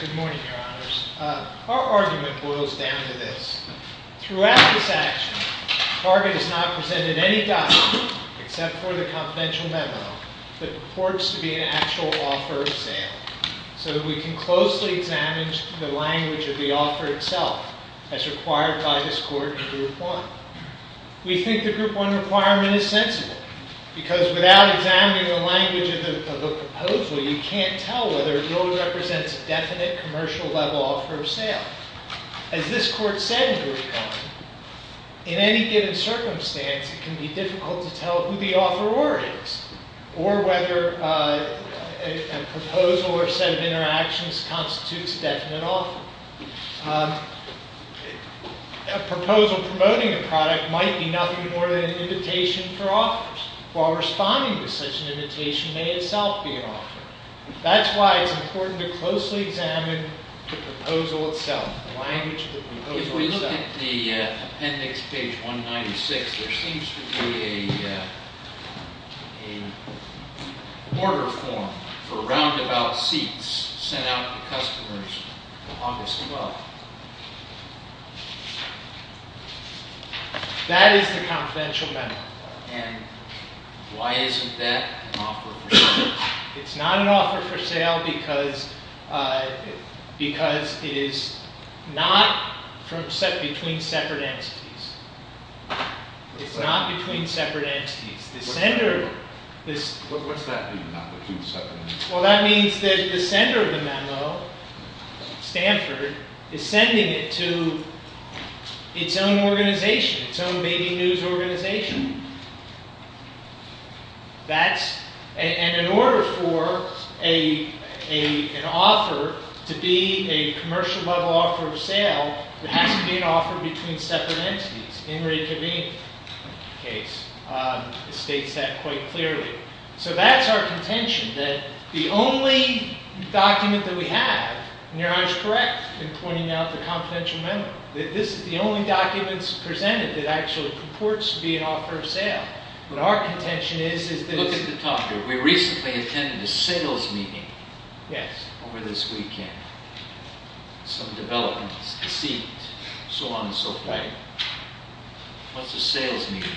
Good morning, Your Honors. Our argument boils down to this. Throughout this action, Target has not presented any document except for the confidential memo that purports to be an actual offer of sale, so that we can closely examine the language of the offer itself as required by this Court in Group 1. We think the Group 1 requirement is sensible, because without examining the language of a proposal, you can't tell whether it really represents a definite, commercial-level offer of sale. As this Court said in Group 1, in any given circumstance, it can be difficult to tell who the offeror is, or whether a proposal or set of interactions constitutes a definite offer. A proposal promoting a product might be nothing more than an invitation for offers, while responding to such an invitation may itself be an offer. That's why it's important to closely examine the proposal itself, the language of the proposal itself. If we look at the appendix, page 196, there seems to be a order form for roundabout seats sent out to customers on August 12. That is the confidential memo. And why isn't that an offer for sale? It's not an offer for sale because it is not set between separate entities. It's not between separate entities. What's that mean, not between separate entities? Well, that means that the sender of the memo, Stanford, is sending it to its own organization, its own baby news organization. And in order for an offer to be a commercial-level offer of sale, it has to be an offer between separate entities. Henry Kavini states that quite clearly. So that's our contention, that the only document that we have, and you're always correct in pointing out the confidential memo, that this is the only document presented that actually purports to be an offer of sale. What our contention is, is that it's... Look at the top here. We recently attended a sales meeting over this weekend. Some development, a seat, so on and so forth. Right. What's a sales meeting?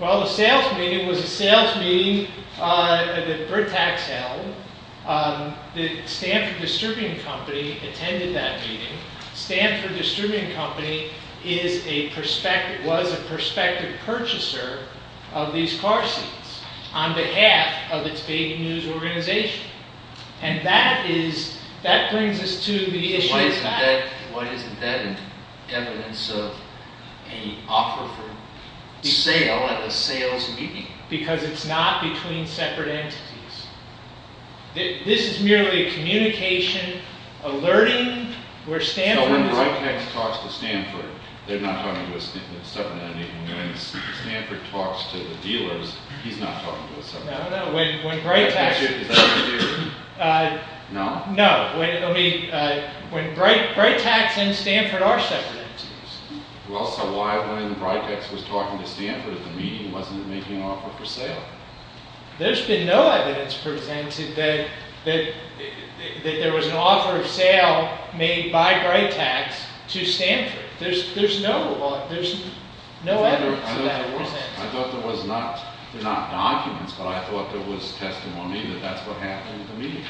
Well, a sales meeting was a sales meeting that Britax held. The Stanford Distributing Company attended that meeting. Stanford Distributing Company was a prospective purchaser of these car seats on behalf of its baby news organization. And that brings us to the issue of fact. Why isn't that evidence of an offer for sale at a sales meeting? Because it's not between separate entities. This is merely a communication alerting where Stanford... So when Britax talks to Stanford, they're not talking to a separate entity. When Stanford talks to the dealers, he's not talking to a separate entity. No, no. When Britax... No? No. When Britax and Stanford are separate entities. Well, so why, when Britax was talking to Stanford at the meeting, wasn't it making an offer for sale? There's been no evidence presented that there was an offer of sale made by Britax to Stanford. There's no evidence of that. I thought there was not. They're not documents, but I thought there was testimony that that's what happened at the meeting.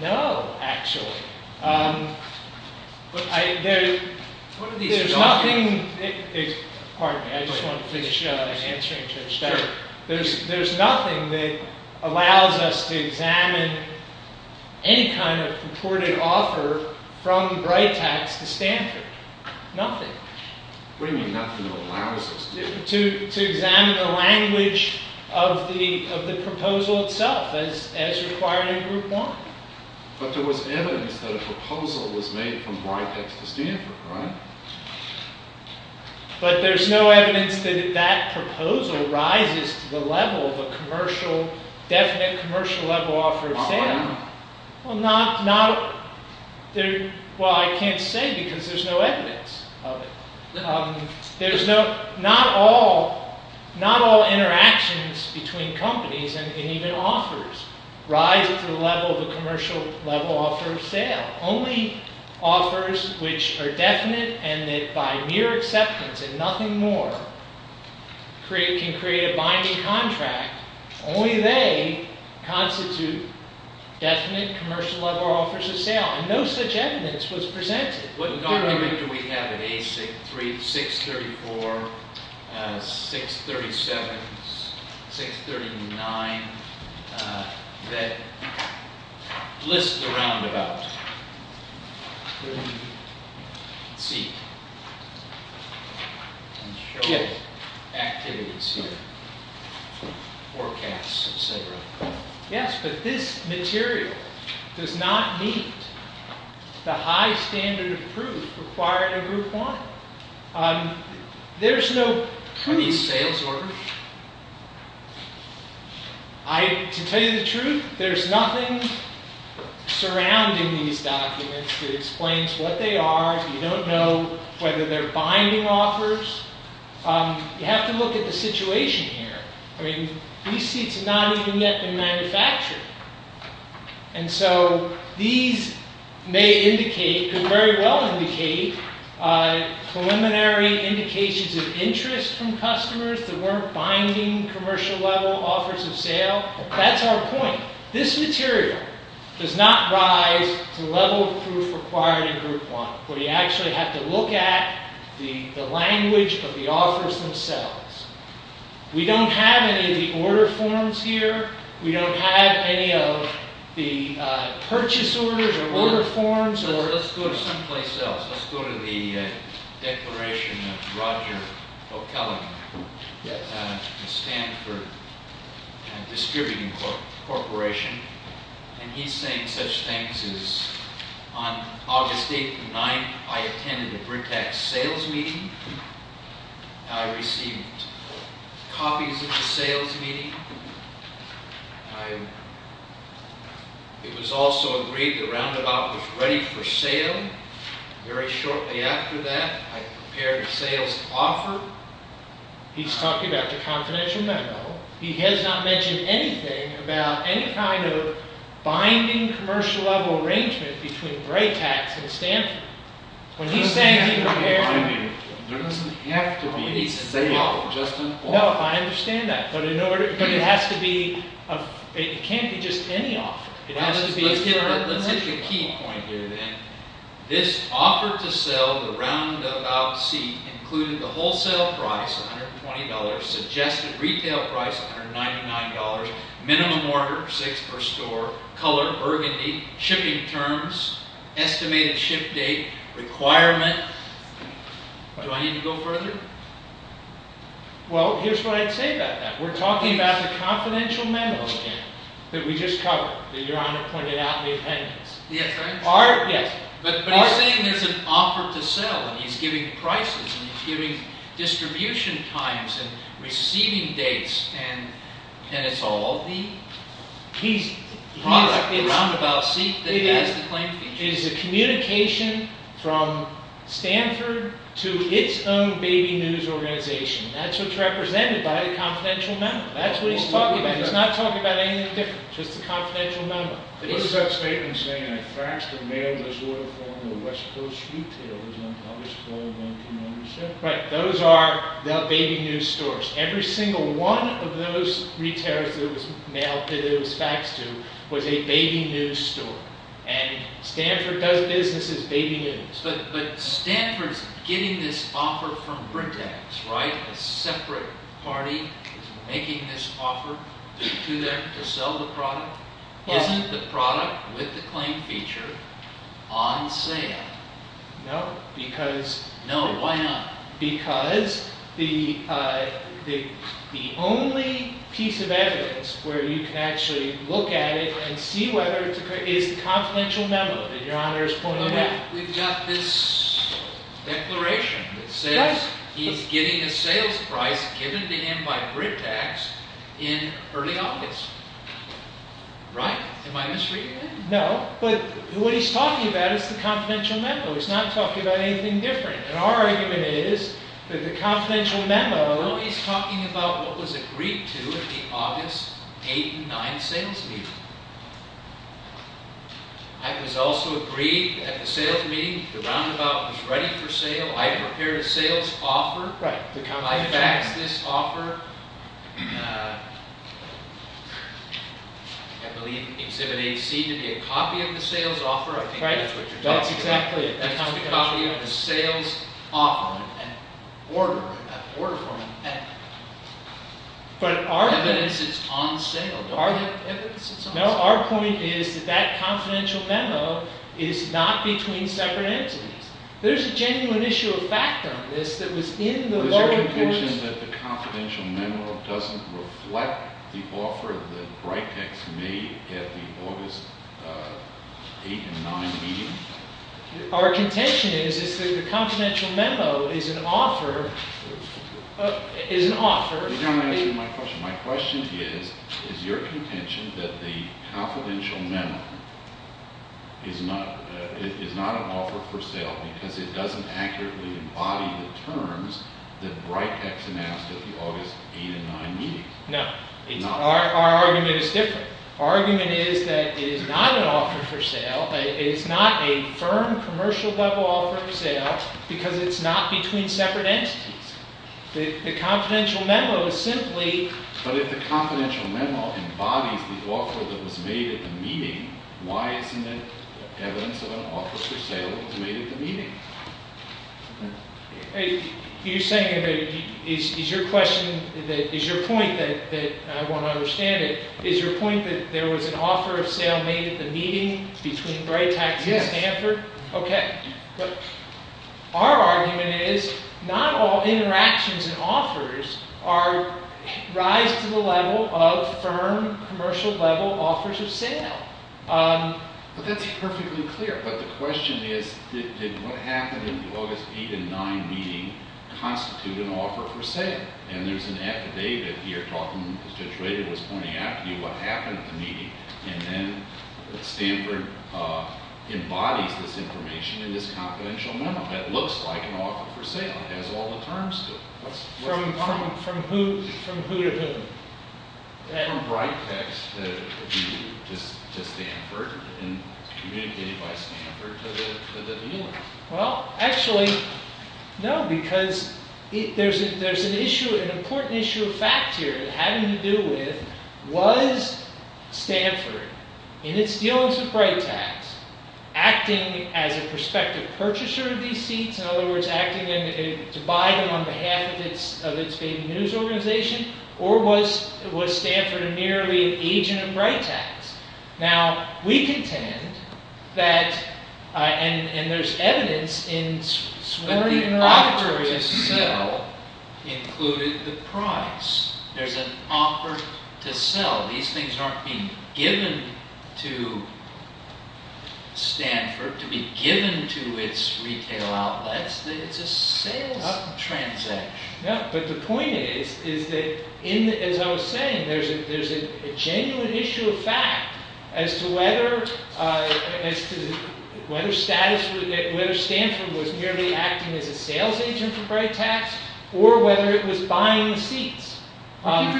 No, actually. There's nothing... Pardon me, I just want to finish answering to... There's nothing that allows us to examine any kind of reported offer from Britax to Stanford. Nothing. What do you mean, nothing allows us to? To examine the language of the proposal itself as required in Group 1. But there was evidence that a proposal was made from Britax to Stanford, right? But there's no evidence that that proposal rises to the level of a commercial, definite commercial level offer of sale. Well, why not? Well, not... Well, I can't say because there's no evidence of it. There's no... Not all interactions between companies and even offers rise to the level of a commercial level offer of sale. Only offers which are definite and that by mere acceptance and nothing more can create a binding contract, only they constitute definite commercial level offers of sale. And no such evidence was presented. What number do we have at A6, 634, 637, 639 that list the roundabout? Let's see. Activities here. Forecasts, etc. Yes, but this material does not meet the high standard of proof required in Group 1. There's no pre-sales order. To tell you the truth, there's nothing surrounding these documents that explains what they are. You don't know whether they're binding offers. You have to look at the situation here. I mean, these seats have not even yet been manufactured. And so these may indicate, could very well indicate, preliminary indications of interest from customers that weren't binding commercial level offers of sale. But that's our point. This material does not rise to the level of proof required in Group 1. But you actually have to look at the language of the offers themselves. We don't have any of the order forms here. We don't have any of the purchase orders or order forms. Let's go to someplace else. Let's go to the declaration of Roger O'Kelley, the Stanford Distributing Corporation. And he's saying such things as, on August 8th and 9th, I attended a Britax sales meeting. I received copies of the sales meeting. It was also agreed that Roundabout was ready for sale. Very shortly after that, I prepared a sales offer. He's talking about the confidential memo. He has not mentioned anything about any kind of binding commercial level arrangement between Britax and Stanford. There doesn't have to be any sale. No, I understand that. But it can't be just any offer. Let's hit the key point here then. This offer to sell the Roundabout seat included the wholesale price, $120, suggested retail price, $199, minimum order, six per store, color, burgundy, shipping terms, estimated ship date, requirement. Do I need to go further? Well, here's what I'd say about that. We're talking about the confidential memo again that we just covered, that Your Honor pointed out in the appendix. Yes, I understand. Yes. But he's saying there's an offer to sell, and he's giving prices, and he's giving distribution times, and receiving dates, and it's all the product, the Roundabout seat that he has to claim future. It is a communication from Stanford to its own baby news organization. That's what's represented by the confidential memo. That's what he's talking about. He's not talking about anything different, just the confidential memo. What is that statement saying? I faxed and mailed this order form to the West Coast Retailers on August 4, 1997. Right. Those are the baby news stores. Every single one of those retailers that it was mailed, that it was faxed to, was a baby news store. And Stanford does business as baby news. But Stanford's getting this offer from Britax, right, a separate party making this offer to them to sell the product? Isn't the product with the claim feature on sale? No, because… No, why not? Because the only piece of evidence where you can actually look at it and see whether it's a… is the confidential memo that Your Honor is pointing out. We've got this declaration that says he's getting a sales price given to him by Britax in early August. Right? Am I misreading it? No, but what he's talking about is the confidential memo. He's not talking about anything different. And our argument is that the confidential memo… No, he's talking about what was agreed to at the August 8 and 9 sales meeting. It was also agreed at the sales meeting the roundabout was ready for sale. I prepared a sales offer. Right, the confidential memo. I faxed this offer. I believe Exhibit A seemed to be a copy of the sales offer. I think that's what you're talking about. Right, that's exactly it. It's a copy of the sales offer. An order from an entity. But our… Evidence is on sale. Don't we have evidence that's on sale? No, our point is that that confidential memo is not between separate entities. There's a genuine issue of fact on this that was in the… Is your conclusion that the confidential memo doesn't reflect the offer that Britax made at the August 8 and 9 meeting? Our contention is that the confidential memo is an offer… You're not answering my question. My question is, is your contention that the confidential memo is not an offer for sale because it doesn't accurately embody the terms that Britax announced at the August 8 and 9 meeting? No. Our argument is different. Our argument is that it is not an offer for sale. It is not a firm, commercial-level offer for sale because it's not between separate entities. The confidential memo is simply… But if the confidential memo embodies the offer that was made at the meeting, why isn't it evidence of an offer for sale that was made at the meeting? You're saying that… Is your question… Is your point that… I want to understand it. Is your point that there was an offer of sale made at the meeting between Britax and Stanford? Yes. Okay. Our argument is not all interactions and offers rise to the level of firm, commercial-level offers of sale. But that's perfectly clear. But the question is, did what happened in the August 8 and 9 meeting constitute an offer for sale? And there's an affidavit here talking… Judge Rader was pointing out to you what happened at the meeting. And then Stanford embodies this information in this confidential memo. It looks like an offer for sale. It has all the terms to it. What's the problem? From who to whom? From Britax to Stanford and communicated by Stanford to the dealer. Well, actually, no. Because there's an issue, an important issue of fact here having to do with, was Stanford, in its dealings with Britax, acting as a prospective purchaser of these seats? In other words, acting to buy them on behalf of its baby news organization? Or was Stanford merely an agent of Britax? Now, we contend that, and there's evidence in… But the offer to sell included the price. There's an offer to sell. These things aren't being given to Stanford to be given to its retail outlets. It's a sales transaction. No, but the point is that, as I was saying, there's a genuine issue of fact as to whether Stanford was merely acting as a sales agent for Britax or whether it was buying the seats. But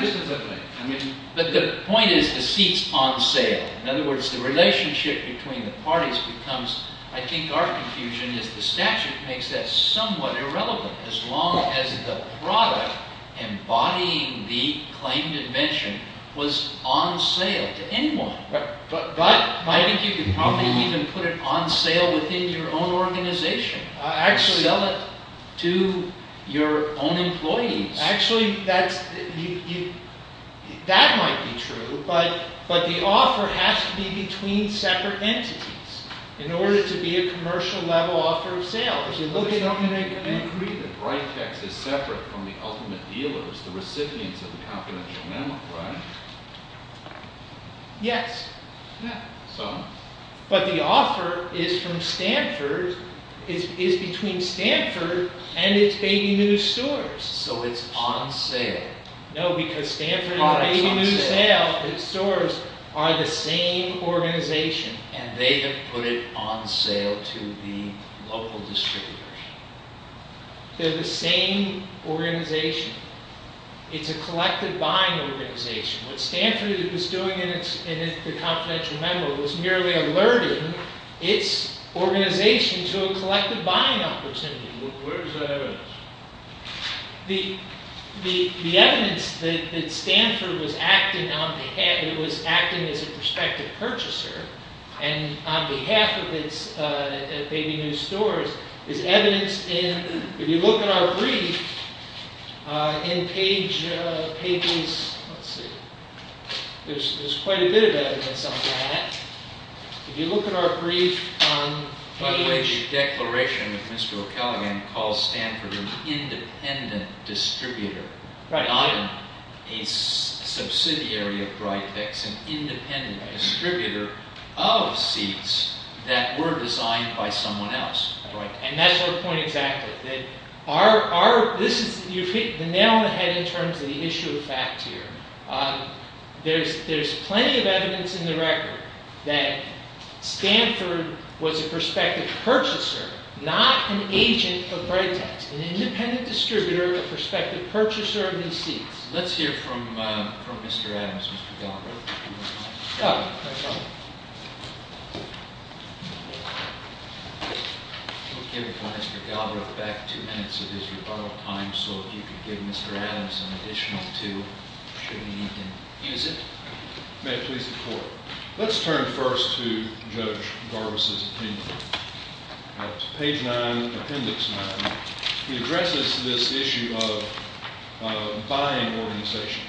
the point is the seats on sale. In other words, the relationship between the parties becomes, I think our confusion is the statute makes that somewhat irrelevant as long as the product embodying the claimed invention was on sale to anyone. But I think you could probably even put it on sale within your own organization. Sell it to your own employees. Actually, that might be true, but the offer has to be between separate entities in order to be a commercial level offer of sale. I agree that Britax is separate from the ultimate dealers, the recipients of the confidential memo, right? Yes. So? But the offer is from Stanford, is between Stanford and its baby news stores. So it's on sale. No, because Stanford and its baby news stores are the same organization. And they have put it on sale to the local distributors. They're the same organization. It's a collective buying organization. What Stanford was doing in the confidential memo was merely alerting its organization to a collective buying opportunity. Where is that evidence? The evidence that Stanford was acting on behalf, that it was acting as a prospective purchaser, and on behalf of its baby news stores, is evidence in, if you look at our brief, in Paige's, let's see, there's quite a bit of evidence on that. If you look at our brief on Paige's... By the way, the declaration of Mr. O'Callaghan calls Stanford an independent distributor, not a subsidiary of Britex, an independent distributor of seats that were designed by someone else. And that's her point exactly. You've hit the nail on the head in terms of the issue of fact here. There's plenty of evidence in the record that Stanford was a prospective purchaser, not an agent of Britex. An independent distributor, a prospective purchaser of these seats. Let's hear from Mr. Adams, Mr. Galbraith. Mr. Galbraith. We'll give Mr. Galbraith back two minutes of his rebuttal time, so if you could give Mr. Adams an additional two, should he need them, use it. May it please the Court. Let's turn first to Judge Garbus' opinion. Page 9, Appendix 9. He addresses this issue of buying organization.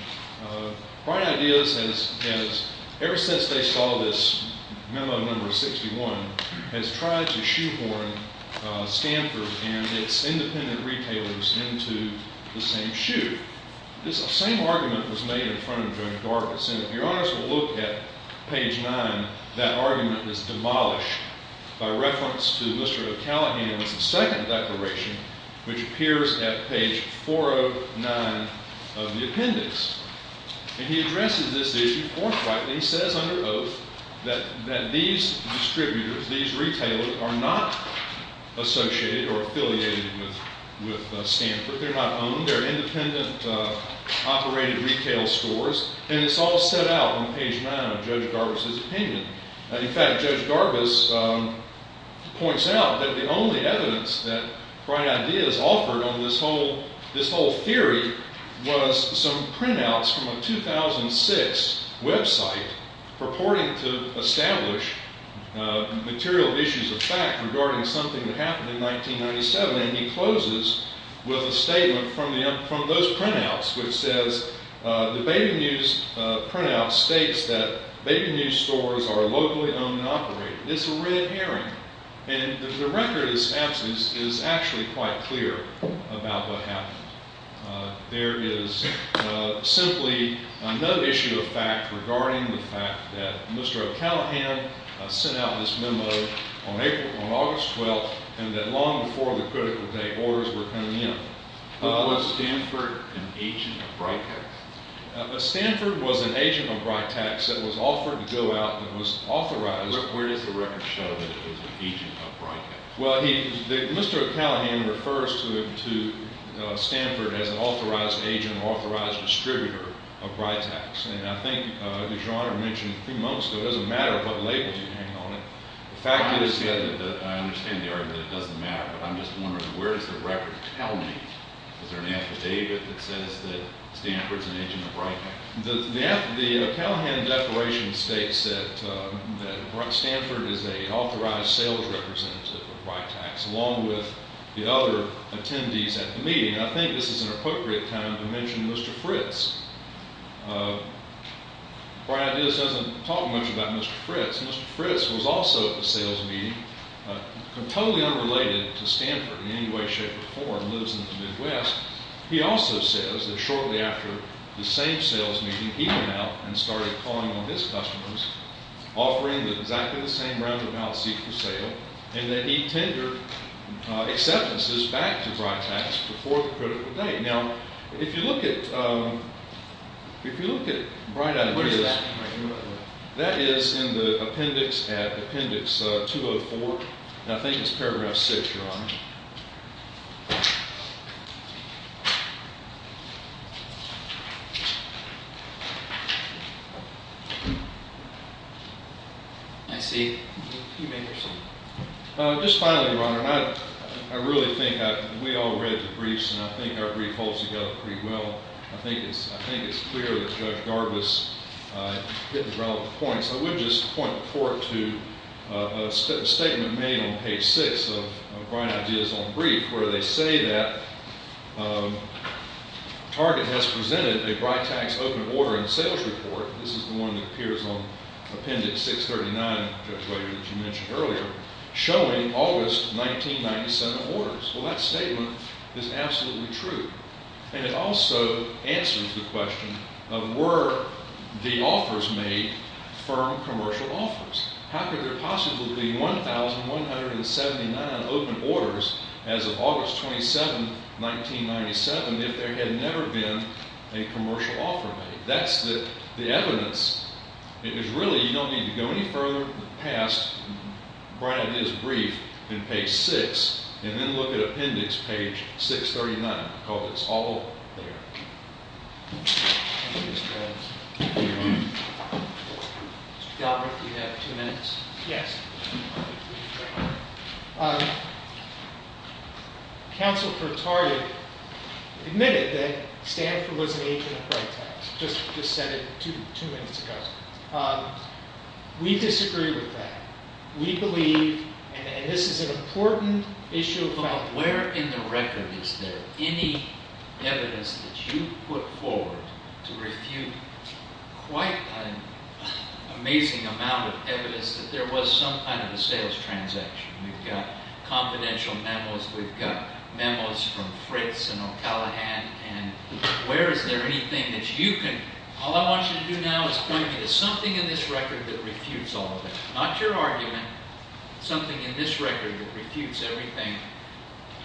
Brite Ideas has, ever since they saw this memo number 61, has tried to shoehorn Stanford and its independent retailers into the same shoe. This same argument was made in front of Judge Garbus, and if you're honest with a look at page 9, that argument is demolished. By reference to Mr. O'Callaghan's second declaration, which appears at page 409 of the appendix. And he addresses this issue forthrightly. He says under oath that these distributors, these retailers, are not associated or affiliated with Stanford. They're not owned. They're independent, operated retail stores. And it's all set out on page 9 of Judge Garbus' opinion. In fact, Judge Garbus points out that the only evidence that Brite Ideas offered on this whole theory was some printouts from a 2006 website purporting to establish material issues of fact regarding something that happened in 1997. And he closes with a statement from those printouts, which says the baby news printout states that baby news stores are locally owned and operated. It's a red herring. And the record is actually quite clear about what happened. There is simply no issue of fact regarding the fact that Mr. O'Callaghan sent out this memo on August 12th and that long before the critical date orders were coming in. Was Stanford an agent of Britex? Stanford was an agent of Britex. It was offered to go out. It was authorized. Where does the record show that it was an agent of Britex? Well, Mr. O'Callaghan refers to Stanford as an authorized agent, an authorized distributor of Britex. And I think DeJuan mentioned a few moments ago, it doesn't matter what labels you hang on it. The fact is that I understand the argument that it doesn't matter. But I'm just wondering, where does the record tell me? Is there an affidavit that says that Stanford's an agent of Britex? The O'Callaghan declaration states that Stanford is an authorized sales representative of Britex, along with the other attendees at the meeting. And I think this is an appropriate time to mention Mr. Fritz. Britex doesn't talk much about Mr. Fritz. Mr. Fritz was also at the sales meeting. Totally unrelated to Stanford in any way, shape, or form, lives in the Midwest. He also says that shortly after the same sales meeting, he went out and started calling on his customers, offering exactly the same roundabout seat for sale, and that he tendered acceptances back to Britex before the critical date. Now, if you look at Britex, that is in the appendix at appendix 204. And I think it's paragraph 6, Your Honor. I see. You may proceed. Just finally, Your Honor, I really think we all read the briefs. And I think our brief holds together pretty well. I think it's clear that Judge Garbus hit the relevant points. I would just point the court to a statement made on page 6 of Britex's own brief, where they say that Target has presented a Britex open order and sales report. This is the one that appears on appendix 639, Judge Weber, that you mentioned earlier, showing August 1997 orders. Well, that statement is absolutely true. And it also answers the question of were the offers made firm commercial offers? How could there possibly be 1,179 open orders as of August 27, 1997, if there had never been a commercial offer made? That's the evidence. It is really, you don't need to go any further past Britex's brief in page 6, and then look at appendix page 639. It's all there. Thank you, Mr. Adams. Mr. Galbraith, do you have two minutes? Yes. Counsel for Target admitted that Stanford was an agent of Britex. Just said it two minutes ago. We disagree with that. We believe, and this is an important issue. Where in the record is there any evidence that you put forward to refute quite an amazing amount of evidence that there was some kind of a sales transaction? We've got confidential memos. We've got memos from Fritz and O'Callaghan. And where is there anything that you can, all I want you to do now is point me to something in this record that refutes all of that. Not your argument, something in this record that refutes everything,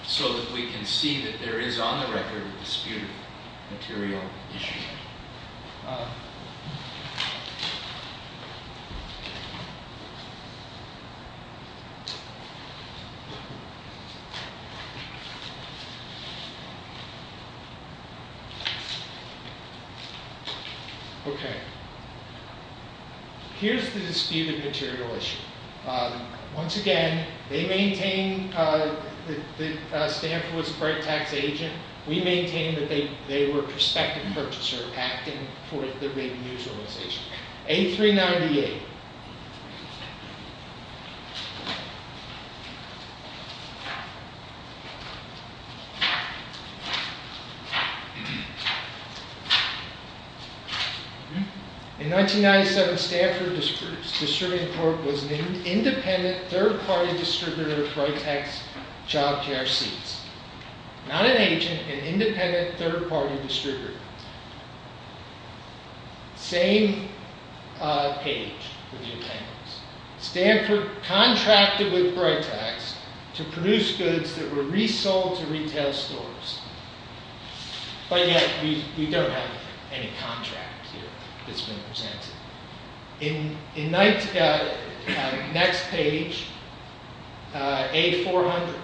so that we can see that there is on the record a disputed material issue. OK. Here's the disputed material issue. Once again, they maintain that Stanford was a Britex agent. We maintain that they were a prospective purchaser acting for the big news organization. A398. OK. In 1997, Stanford Distributing Corp. was an independent, third-party distributor of Britex job chair seats. Not an agent, an independent, third-party distributor. Same page with your papers. Stanford contracted with Britex to produce goods that were resold to retail stores. But yet, we don't have any contract here that's been presented. In next page, A400,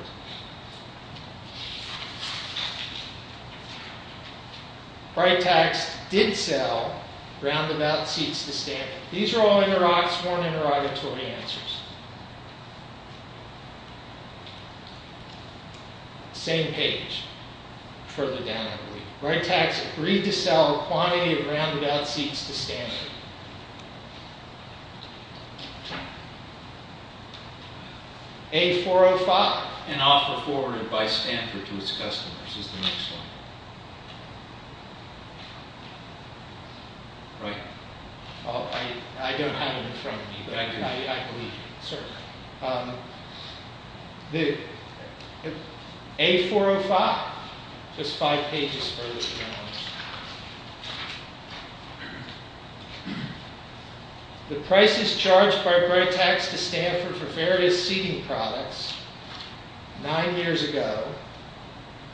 Britex did sell roundabout seats to Stanford. These are all sworn interrogatory answers. Same page, further down, I believe. Britex agreed to sell a quantity of roundabout seats to Stanford. A405. An offer forwarded by Stanford to its customers is the next one. Right? Oh, I don't have it in front of me. But I believe you. Certainly. A405. Just five pages further down. The prices charged by Britex to Stanford for various seating products nine years ago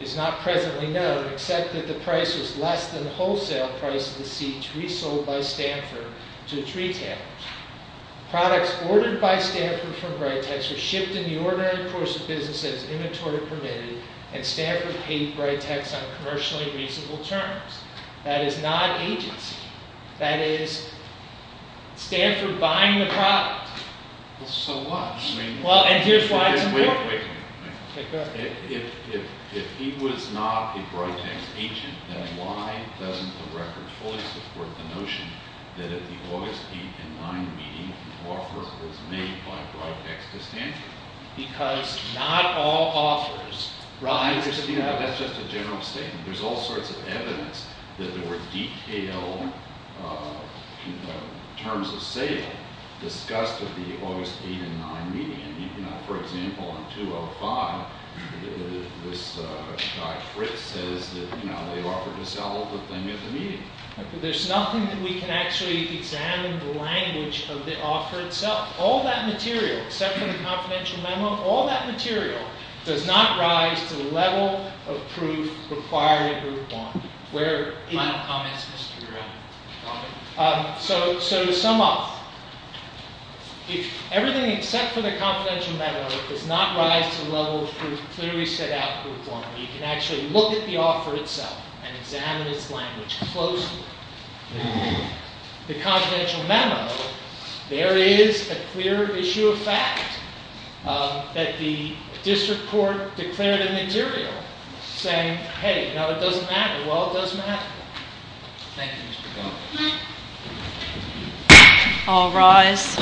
is not presently known, except that the price was less than the wholesale price of the seats resold by Stanford to its retailers. Products ordered by Stanford from Britex were shipped in the ordinary course of business as inventory permitted, and Stanford paid Britex on commercially reasonable terms. That is not agency. That is Stanford buying the product. So what? Well, and here's why it's important. Wait a minute. OK, go ahead. If he was not a Britex agent, then why doesn't the record fully support the notion that at the August 8 and 9 meeting, the offer was made by Britex to Stanford? Because not all offers rise to that. That's just a general statement. There's all sorts of evidence that there were detailed terms of sale discussed at the August 8 and 9 meeting. I mean, for example, on 205, this guy Fritz says that they offered to sell the thing at the meeting. There's nothing that we can actually examine the language of the offer itself. All that material, except for the confidential memo, all that material does not rise to the level of proof required in Group 1. Final comments, Mr. Brown? So to sum up, if everything except for the confidential memo does not rise to the level of proof clearly set out in Group 1, you can actually look at the offer itself and examine its language closely. The confidential memo, there is a clear issue of fact that the district court declared in the material, saying, hey, now it doesn't matter. Well, it doesn't matter. Thank you, Mr. Brown. All rise.